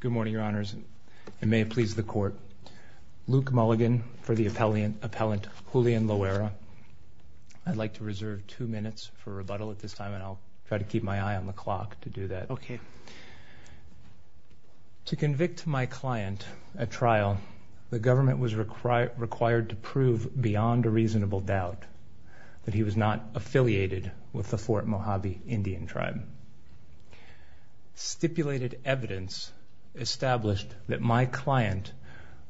Good morning, your honors, and may it please the court. Luke Mulligan for the appellant Julian Loera. I'd like to reserve two minutes for rebuttal at this time, and I'll try to keep my eye on the clock to do that. To convict my client at trial, the government was required to prove beyond a reasonable doubt that he was not affiliated with the Fort Mojave Indian Tribe. Stipulated evidence established that my client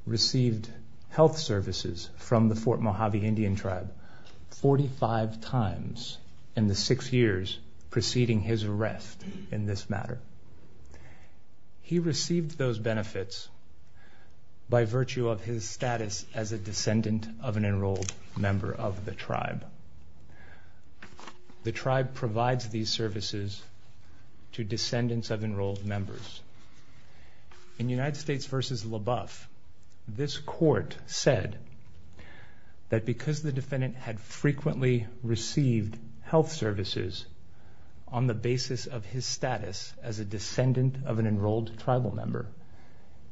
received health services from the Fort Mojave Indian Tribe 45 times in the six years preceding his arrest in this matter. He received those benefits by virtue of his status as a descendant of an enrolled member of the tribe. The tribe provides these services to descendants of enrolled members. In United States v. LaBeouf, this court said that because the defendant had frequently received health services on the basis of his status as a descendant of an enrolled tribal member,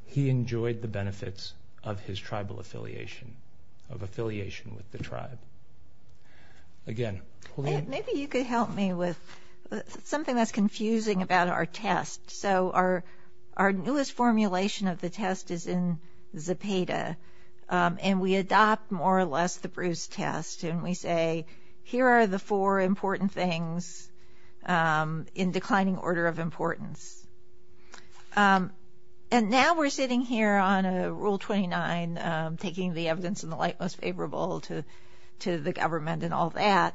he enjoyed the benefits of his tribal affiliation, of affiliation with the tribe. Again, Julian? Julian Loera Maybe you could help me with something that's confusing about our test. So our newest formulation of the test is in Zapata, and we adopt more or less the Bruce test, and we say, here are the four important things in declining order of importance. And now we're sitting here on Rule 29, taking the evidence in the light most favorable to the government and all that,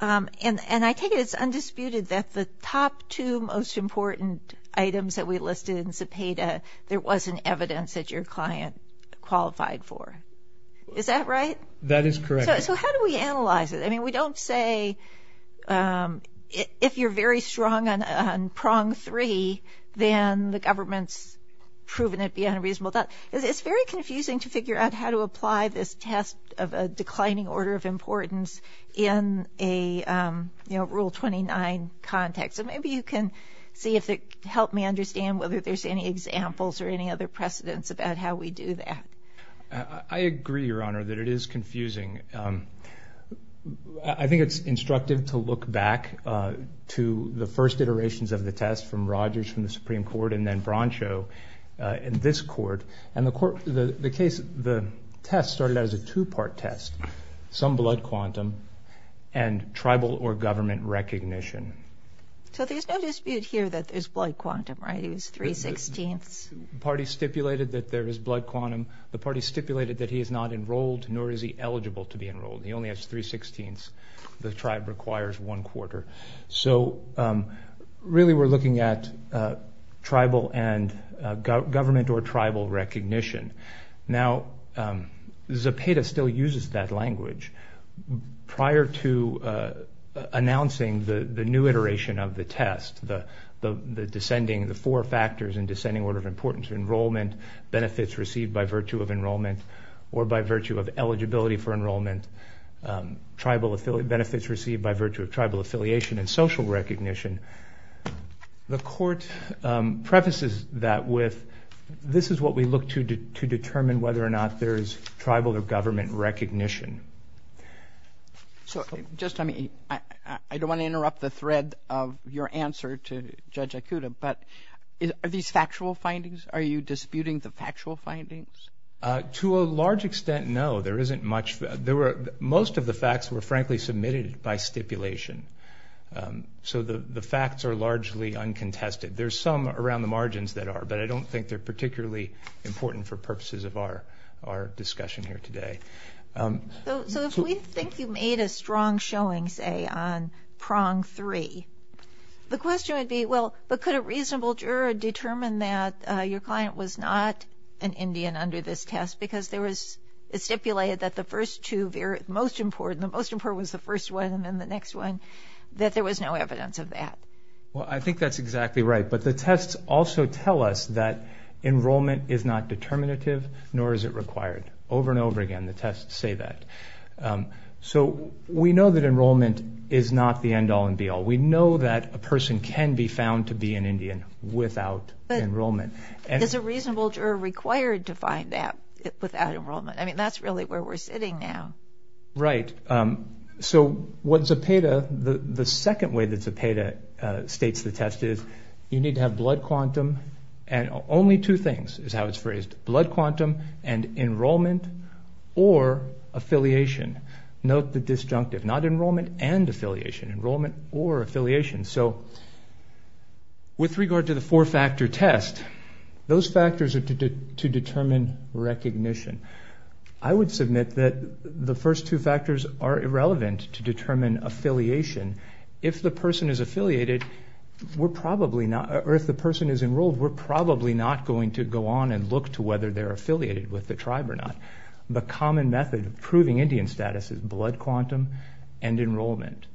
and I take it it's undisputed that the top two most important items that we listed in Zapata, there wasn't evidence that your client qualified for. Is that right? That is correct. So how do we analyze it? I mean, we don't say, if you're very strong on prong three, then the government's proven it beyond a reasonable doubt. It's very confusing to figure out how to apply this test of a declining order of importance in a Rule 29 context, so maybe you can see if it can help me understand whether there's any examples or any other precedents about how we do that. I agree, Your Honor, that it is confusing. I think it's instructive to look back to the first iterations of the test from Rodgers from the Supreme Court and then Broncho in this court, and the test started out as a two-part test, some blood quantum and tribal or government recognition. So there's no dispute here that there's blood quantum, right? It was three-sixteenths. The party stipulated that there is blood quantum. The party stipulated that he is not enrolled, nor is he eligible to be enrolled. He only has three-sixteenths. The tribe requires one-quarter. So really we're looking at tribal and government or tribal recognition. Now Zapata still uses that language. Prior to announcing the new iteration of the test, the descending, the four factors in importance, enrollment, benefits received by virtue of enrollment or by virtue of eligibility for enrollment, tribal benefits received by virtue of tribal affiliation and social recognition, the court prefaces that with, this is what we look to determine whether or not there is tribal or government recognition. So just, I mean, I don't want to interrupt the thread of your answer to Judge Akuta, but are these factual findings? Are you disputing the factual findings? To a large extent, no. There isn't much, most of the facts were frankly submitted by stipulation. So the facts are largely uncontested. There's some around the margins that are, but I don't think they're particularly important for purposes of our discussion here today. So if we think you made a strong showing, say, on prong three, the question would be, well, but could a reasonable juror determine that your client was not an Indian under this test because there was, it stipulated that the first two, the most important, the most important was the first one and then the next one, that there was no evidence of that. Well, I think that's exactly right. But the tests also tell us that enrollment is not determinative, nor is it required. Over and over again, the tests say that. So we know that enrollment is not the end all and be all. We know that a person can be found to be an Indian without enrollment. Is a reasonable juror required to find that without enrollment? I mean, that's really where we're sitting now. Right. So what Zepeda, the second way that Zepeda states the test is, you need to have blood quantum and only two things is how it's phrased, blood quantum and enrollment or affiliation. Note the disjunctive. Not enrollment and affiliation, enrollment or affiliation. So with regard to the four factor test, those factors are to determine recognition. I would submit that the first two factors are irrelevant to determine affiliation. If the person is affiliated, we're probably not, or if the person is enrolled, we're probably not going to go on and look to whether they're affiliated with the tribe or not. The common method of proving Indian status is blood quantum and enrollment.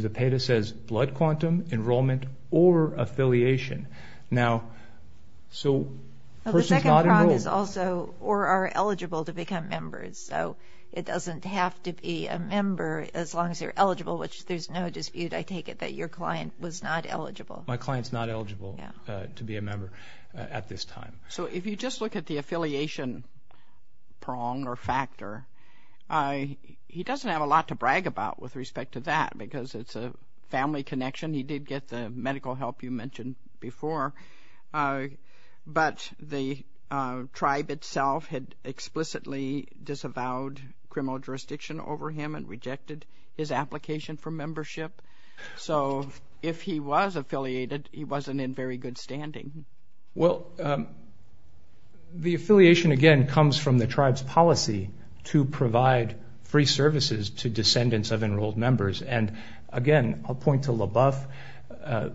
Zepeda says blood quantum, enrollment, or affiliation. Now, so the person's not enrolled. The second prong is also, or are eligible to become members. So it doesn't have to be a member as long as they're eligible, which there's no dispute, I take it, that your client was not eligible. My client's not eligible to be a member at this time. So if you just look at the affiliation prong or factor, he doesn't have a lot to brag about with respect to that because it's a family connection. He did get the medical help you mentioned before, but the tribe itself had explicitly disavowed criminal jurisdiction over him and rejected his application for membership. So if he was affiliated, he wasn't in very good standing. Well, the affiliation, again, comes from the tribe's policy to provide free services to descendants of enrolled members. And again, I'll point to LaBeouf,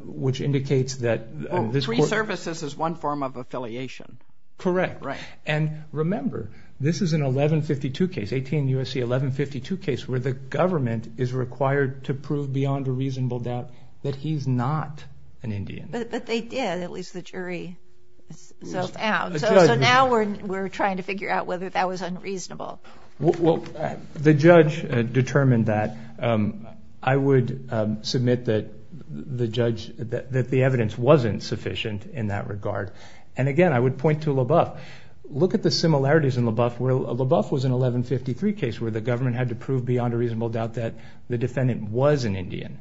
which indicates that this... Free services is one form of affiliation. Correct. Right. And remember, this is an 1152 case, 18 U.S.C. 1152 case, where the government is required to prove beyond a reasonable doubt that he's not an Indian. But they did, at least the jury so found. So now we're trying to figure out whether that was unreasonable. Well, the judge determined that. I would submit that the evidence wasn't sufficient in that regard. And again, I would point to LaBeouf. Look at the similarities in LaBeouf, where LaBeouf was an 1153 case where the government had to prove beyond a reasonable doubt that the defendant was an Indian.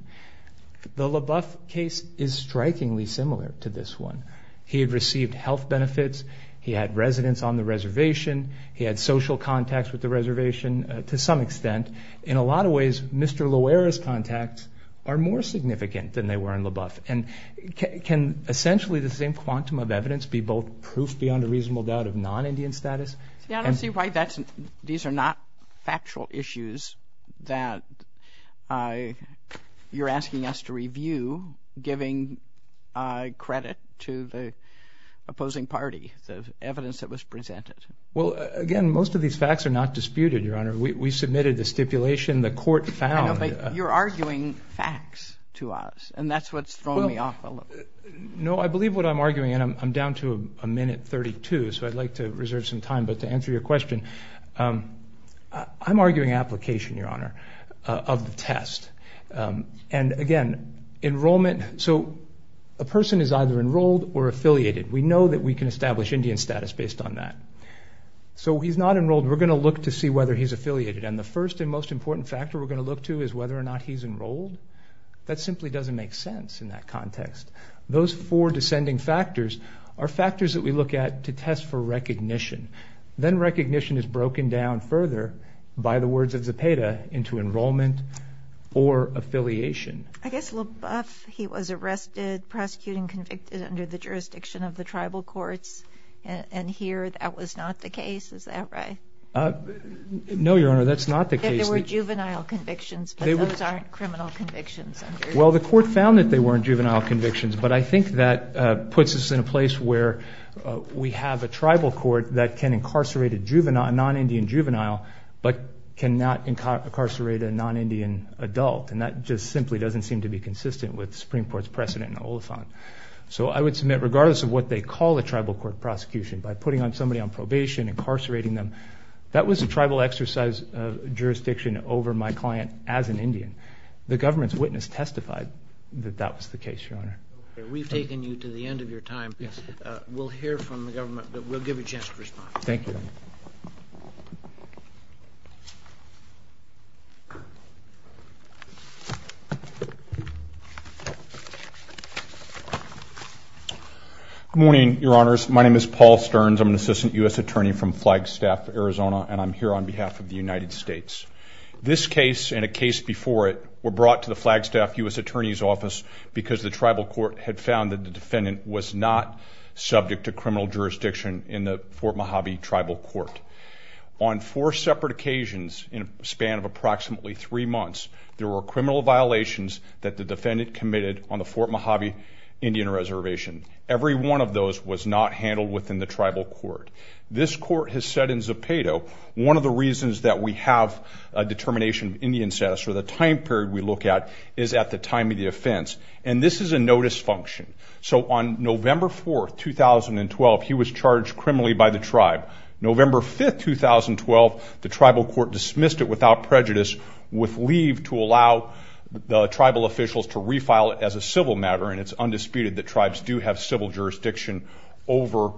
The LaBeouf case is strikingly similar to this one. He had received health benefits. He had residence on the reservation. He had social contacts with the reservation, to some extent. In a lot of ways, Mr. Loera's contacts are more significant than they were in LaBeouf. And can essentially the same quantum of evidence be both proof beyond a reasonable doubt of non-Indian status? Yeah, I don't see why these are not factual issues that you're asking us to review, giving credit to the opposing party, the evidence that was presented. Well, again, most of these facts are not disputed, Your Honor. We submitted the stipulation. The court found. You're arguing facts to us. And that's what's throwing me off a little. No, I believe what I'm arguing, and I'm down to a minute 32. So I'd like to reserve some time. But to answer your question, I'm arguing application, Your Honor, of the test. And again, enrollment. So a person is either enrolled or affiliated. We know that we can establish Indian status based on that. So he's not enrolled. We're going to look to see whether he's affiliated. And the first and most important factor we're going to look to is whether or not he's enrolled. That simply doesn't make sense in that context. Those four descending factors are factors that we look at to test for recognition. Then recognition is broken down further by the words of Zepeda into enrollment or affiliation. I guess LaBeouf, he was arrested, prosecuted, and convicted under the jurisdiction of the tribal courts, and here that was not the case. Is that right? No, Your Honor, that's not the case. There were juvenile convictions, but those aren't criminal convictions. Well, the court found that they weren't juvenile convictions, but I think that puts us in a place where we have a tribal court that can incarcerate a non-Indian juvenile but cannot incarcerate a non-Indian adult. And that just simply doesn't seem to be consistent with the Supreme Court's precedent in Oliphant. So I would submit, regardless of what they call a tribal court prosecution, by putting somebody on probation, incarcerating them, that was a tribal exercise of jurisdiction over my client as an Indian. The government's witness testified that that was the case, Your Honor. We've taken you to the end of your time. Yes. We'll hear from the government, but we'll give you a chance to respond. Thank you. Good morning, Your Honors. My name is Paul Stearns. I'm an assistant U.S. attorney from Flagstaff, Arizona, and I'm here on behalf of the United States. This case and a case before it were brought to the Flagstaff U.S. Attorney's Office because the tribal court had found that the defendant was not subject to criminal jurisdiction in the Fort Mojave Tribal Court. On four separate occasions in a span of approximately three months, there were criminal violations that the defendant committed on the Fort Mojave Indian Reservation. Every one of those was not handled within the tribal court. This court has said in Zepedo, one of the reasons that we have a determination of Indian status or the time period we look at is at the time of the offense. And this is a notice function. So on November 4, 2012, he was charged criminally by the tribe. November 5, 2012, the tribal court dismissed it without prejudice, with leave to allow the tribal officials to refile it as a civil matter. And it's undisputed that tribes do have civil jurisdiction over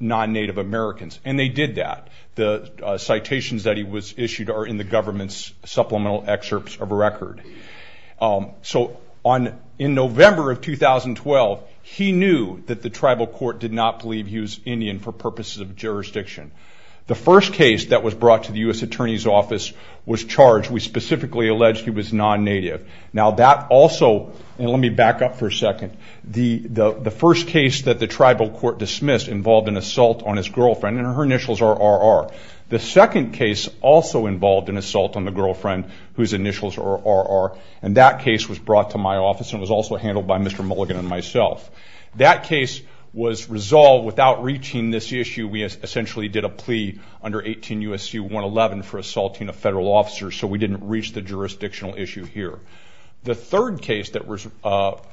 non-Native Americans. And they did that. The citations that he was issued are in the government's supplemental excerpts of a record. So in November of 2012, he knew that the tribal court did not believe he was Indian for purposes of jurisdiction. The first case that was brought to the U.S. Attorney's Office was charged. We specifically alleged he was non-Native. Now that also, and let me back up for a second, the first case that the tribal court dismissed involved an assault on his girlfriend. And her initials are R.R. The second case also involved an assault on the girlfriend whose initials are R.R. And that case was brought to my office and was also handled by Mr. Mulligan and myself. That case was resolved without reaching this issue. We essentially did a plea under 18 U.S.C. 111 for assaulting a federal officer. So we didn't reach the jurisdictional issue here. The third case that was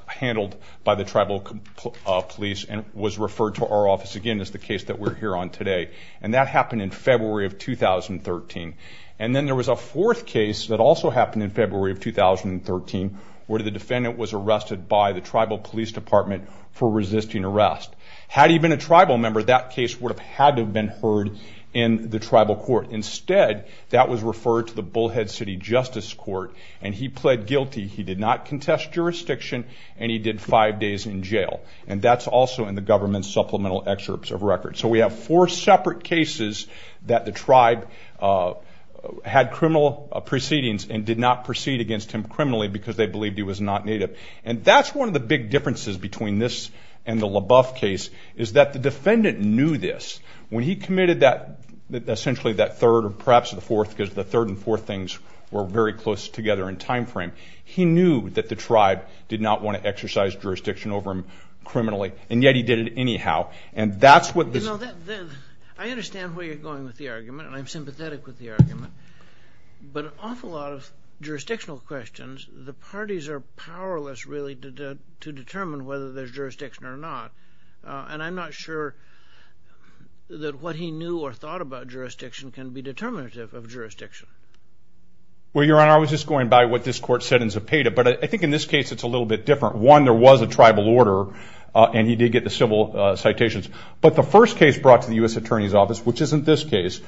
handled by the tribal police and was referred to our office again is the case that we're here on today. And that happened in February of 2013. And then there was a fourth case that also happened in February of 2013 where the defendant was arrested by the tribal police department for resisting arrest. Had he been a tribal member, that case would have had to have been heard in the tribal court. Instead, that was referred to the Bullhead City Justice Court and he pled guilty. He did not contest jurisdiction and he did five days in jail. And that's also in the government's supplemental excerpts of records. So we have four separate cases that the tribe had criminal proceedings and did not proceed against him criminally because they believed he was not Native. And that's one of the big differences between this and the LaBeouf case is that the defendant knew this. When he committed that, essentially that third or perhaps the fourth, because the third and fourth things were very close together in time frame, he knew that the tribe did not want to exercise jurisdiction over him criminally. And yet he did it anyhow. And that's what this... You know, I understand where you're going with the argument and I'm sympathetic with the argument. But an awful lot of jurisdictional questions, the parties are powerless really to determine whether there's jurisdiction or not. And I'm not sure that what he knew or thought about jurisdiction can be determinative of jurisdiction. Well, Your Honor, I was just going by what this court said in Zapata. But I think in this case, it's a little bit different. One, there was a tribal order and he did get the civil citations. But the first case brought to the U.S. Attorney's Office, which isn't this case,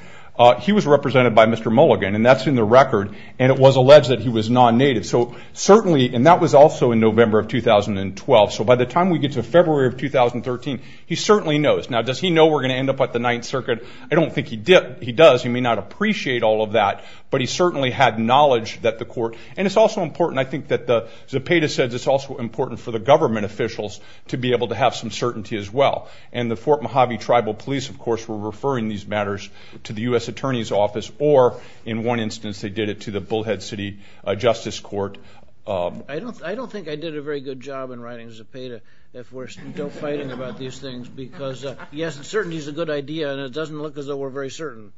he was represented by Mr. Mulligan and that's in the record. And it was alleged that he was non-Native. So certainly, and that was also in November of 2012. So by the time we get to February of 2013, he certainly knows. Now, does he know we're going to end up at the Ninth Circuit? I don't think he does. He may not appreciate all of that. But he certainly had knowledge that the court... And it's also important, I think that the Zapata says it's also important for the government officials to be able to have some certainty as well. And the Fort Mojave Tribal Police, of course, were referring these matters to the U.S. Attorney's Office. Or in one instance, they did it to the Bullhead City Justice Court. I don't think I did a very good job in writing Zapata if we're still fighting about these things. Because, yes, uncertainty is a good idea and it doesn't look as though we're very certain.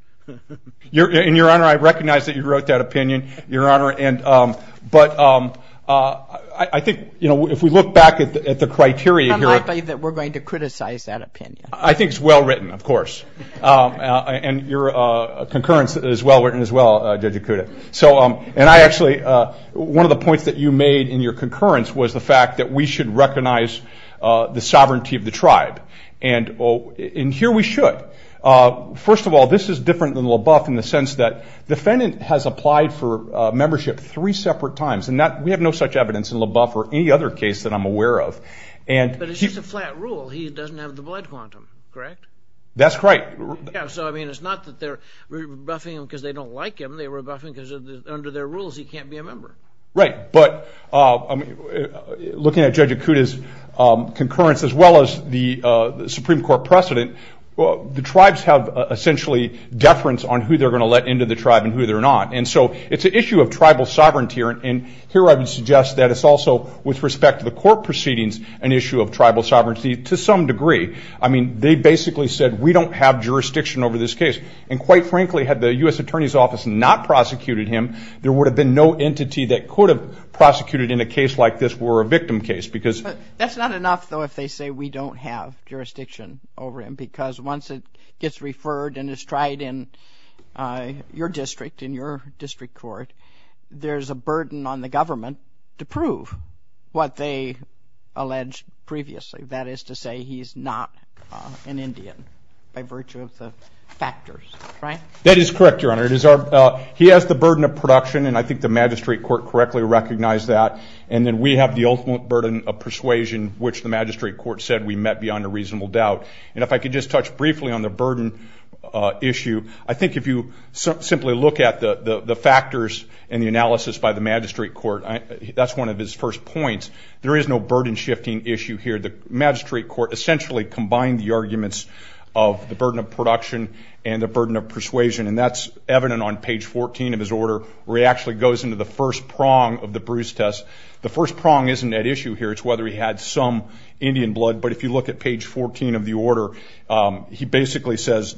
Your Honor, I recognize that you wrote that opinion, Your Honor. And, but I think, you know, if we look back at the criteria here... I'm likely that we're going to criticize that opinion. I think it's well written, of course. And your concurrence is well written as well, Judge Ikuda. So, and I actually, one of the points that you made in your concurrence was the fact that we should recognize the sovereignty of the tribe. And here we should. First of all, this is different than LaBeouf in the sense that the defendant has applied for membership three separate times. And we have no such evidence in LaBeouf or any other case that I'm aware of. But it's just a flat rule. He doesn't have the blood quantum, correct? That's right. So, I mean, it's not that they're rebuffing him because they don't like him. They're rebuffing him because under their rules, he can't be a member. Right. But looking at Judge Ikuda's concurrence, as well as the Supreme Court precedent, the tribes have essentially deference on who they're going to let into the tribe and who they're not. And so it's an issue of tribal sovereignty. And here I would suggest that it's also, with respect to the court proceedings, an issue of tribal sovereignty to some degree. I mean, they basically said, we don't have jurisdiction over this case. And quite frankly, had the US Attorney's Office not prosecuted him, there would have been no entity that could have prosecuted in a case like this were a victim case. Because that's not enough, though, if they say, we don't have jurisdiction over him. Because once it gets referred and is tried in your district, in your district court, there's a burden on the government to prove what they alleged previously. That is to say, he's not an Indian by virtue of the factors, right? That is correct, Your Honor. He has the burden of production. And I think the magistrate court correctly recognized that. And then we have the ultimate burden of persuasion, which the magistrate court said we met beyond a reasonable doubt. And if I could just touch briefly on the burden issue, I think if you simply look at the factors and the analysis by the magistrate court, that's one of his first points. There is no burden shifting issue here. The magistrate court essentially combined the arguments of the burden of production and the burden of persuasion. And that's evident on page 14 of his order, where he actually goes into the first prong of the Bruce test. The first prong isn't at issue here. It's whether he had some Indian blood. But if you look at page 14 of the order, he basically says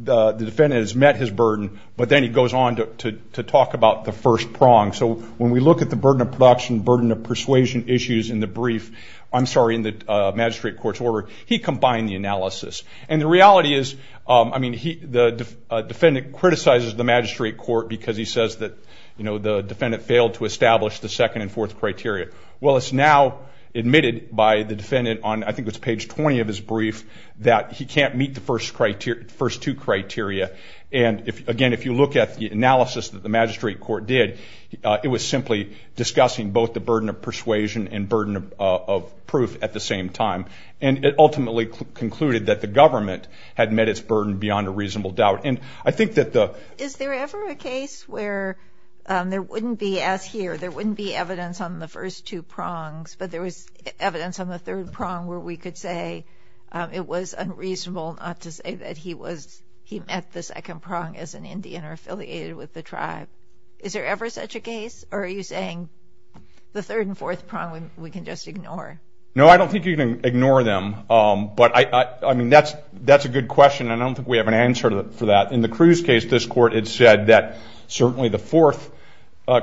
the defendant has met his burden. But then he goes on to talk about the first prong. So when we look at the burden of production, burden of persuasion issues in the brief, I'm sorry, in the magistrate court's order, he combined the analysis. And the reality is, I mean, the defendant criticizes the magistrate court because he says that the defendant failed to establish the second and fourth criteria. Well, it's now admitted by the defendant on, I think it was page 20 of his brief, that he can't meet the first two criteria. And again, if you look at the analysis that the magistrate court did, it was simply discussing both the burden of persuasion and burden of proof at the same time. And it ultimately concluded that the government had met its burden beyond a reasonable doubt. And I think that the... Is there ever a case where there wouldn't be, as here, there wouldn't be evidence on the first two prongs, but there was evidence on the third prong where we could say it was unreasonable not to say that he met the second prong as an Indian or affiliated with the tribe. Is there ever such a case? Or are you saying the third and fourth prong we can just ignore? No, I don't think you can ignore them. But I mean, that's a good question, and I don't think we have an answer for that. In the Cruz case, this court had said that certainly the fourth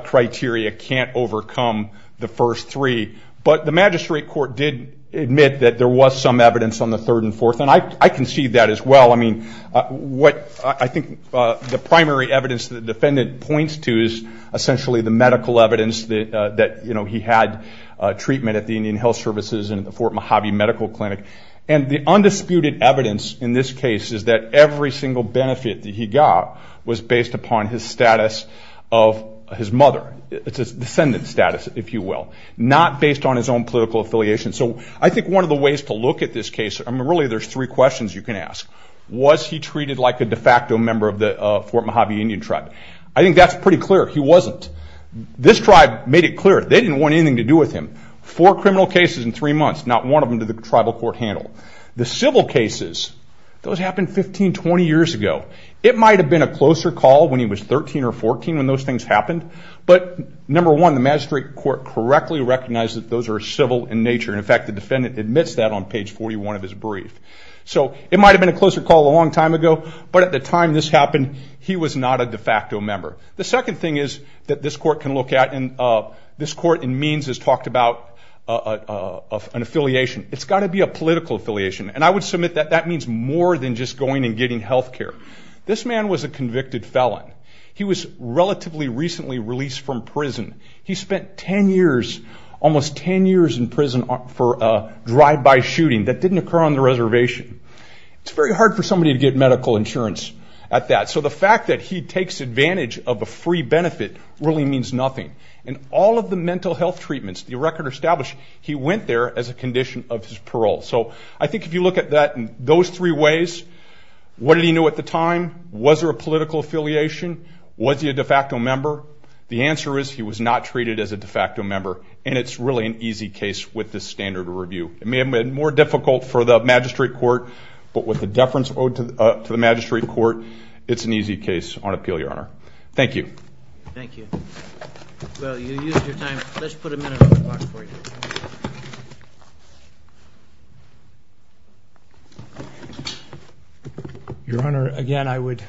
criteria can't overcome the first three. But the magistrate court did admit that there was some evidence on the third and fourth. And I concede that as well. I mean, what I think the primary evidence that the defendant points to is essentially the medical evidence that he had treatment at the Indian Health Services and the Fort Mojave Medical Clinic. And the undisputed evidence in this case is that every single benefit that he got was based upon his status of his mother. It's his descendant status, if you will, not based on his own political affiliation. So I think one of the ways to look at this case, really there's three questions you can ask. Was he treated like a de facto member of the Fort Mojave Indian tribe? I think that's pretty clear, he wasn't. This tribe made it clear they didn't want anything to do with him. Four criminal cases in three months, not one of them did the tribal court handle. The civil cases, those happened 15, 20 years ago. It might have been a closer call when he was 13 or 14 when those things happened. But number one, the magistrate court correctly recognized that those are civil in nature. In fact, the defendant admits that on page 41 of his brief. So it might have been a closer call a long time ago, but at the time this happened, he was not a de facto member. The second thing is that this court can look at, and this court in means has talked about an affiliation. It's got to be a political affiliation. And I would submit that that means more than just going and getting health care. This man was a convicted felon. He was relatively recently released from prison. He spent 10 years, almost 10 years in prison for a drive-by shooting. That didn't occur on the reservation. It's very hard for somebody to get medical insurance at that. So the fact that he takes advantage of a free benefit really means nothing. In all of the mental health treatments the record established, he went there as a condition of his parole. So I think if you look at that in those three ways, what did he know at the time? Was there a political affiliation? Was he a de facto member? The answer is he was not treated as a de facto member, and it's really an easy case with this standard of review. It may have been more difficult for the magistrate court, but with the deference owed to the magistrate court, it's an easy case on appeal, Your Honor. Thank you. Thank you. Well, you used your time. Let's put a minute on the clock for you. Your Honor, again I would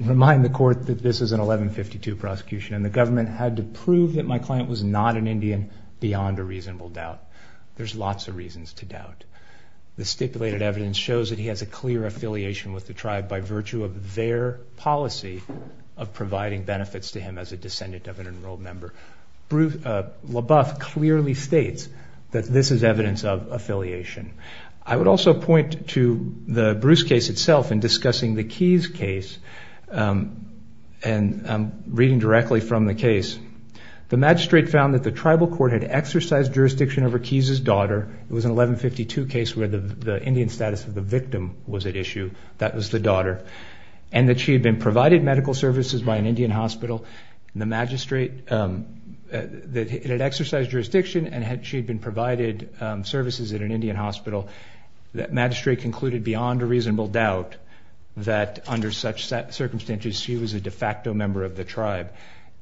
remind the court that this is an 1152 prosecution, and the government had to prove that my client was not an Indian beyond a reasonable doubt. There's lots of reasons to doubt. The stipulated evidence shows that he has a clear affiliation with the tribe by virtue of their policy of providing benefits to him as a descendant of an enrolled member. LaBeouf clearly states that this is evidence of affiliation. I would also point to the Bruce case itself in discussing the Keyes case and reading directly from the case. The magistrate found that the tribal court had exercised jurisdiction over Keyes' daughter. It was an 1152 case where the Indian status of the victim was at issue. That was the daughter, and that she had been provided medical services by an Indian hospital. The magistrate, it had exercised jurisdiction and she had been provided services at an Indian hospital. The magistrate concluded beyond a reasonable doubt that under such circumstances she was a de facto member of the tribe.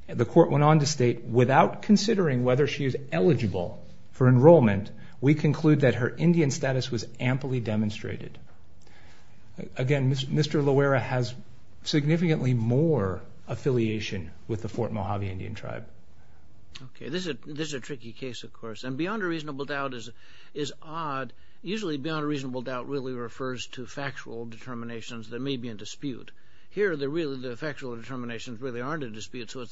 The court went on to state, without considering whether she is eligible for enrollment, we conclude that her Indian status was amply demonstrated. Again, Mr. Loera has significantly more affiliation with the Fort Mojave Indian tribe. Okay, this is a tricky case, of course. And beyond a reasonable doubt is odd. Usually beyond a reasonable doubt really refers to factual determinations that may be in dispute. Here, the factual determinations really aren't in dispute, so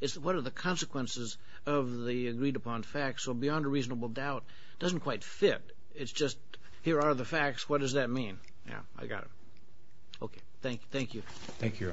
it's what are the consequences of the agreed upon facts. So beyond a reasonable doubt doesn't quite fit. It's just here are the facts, what does that mean? Yeah, I got it. Okay, thank you. Thank you, Your Honor.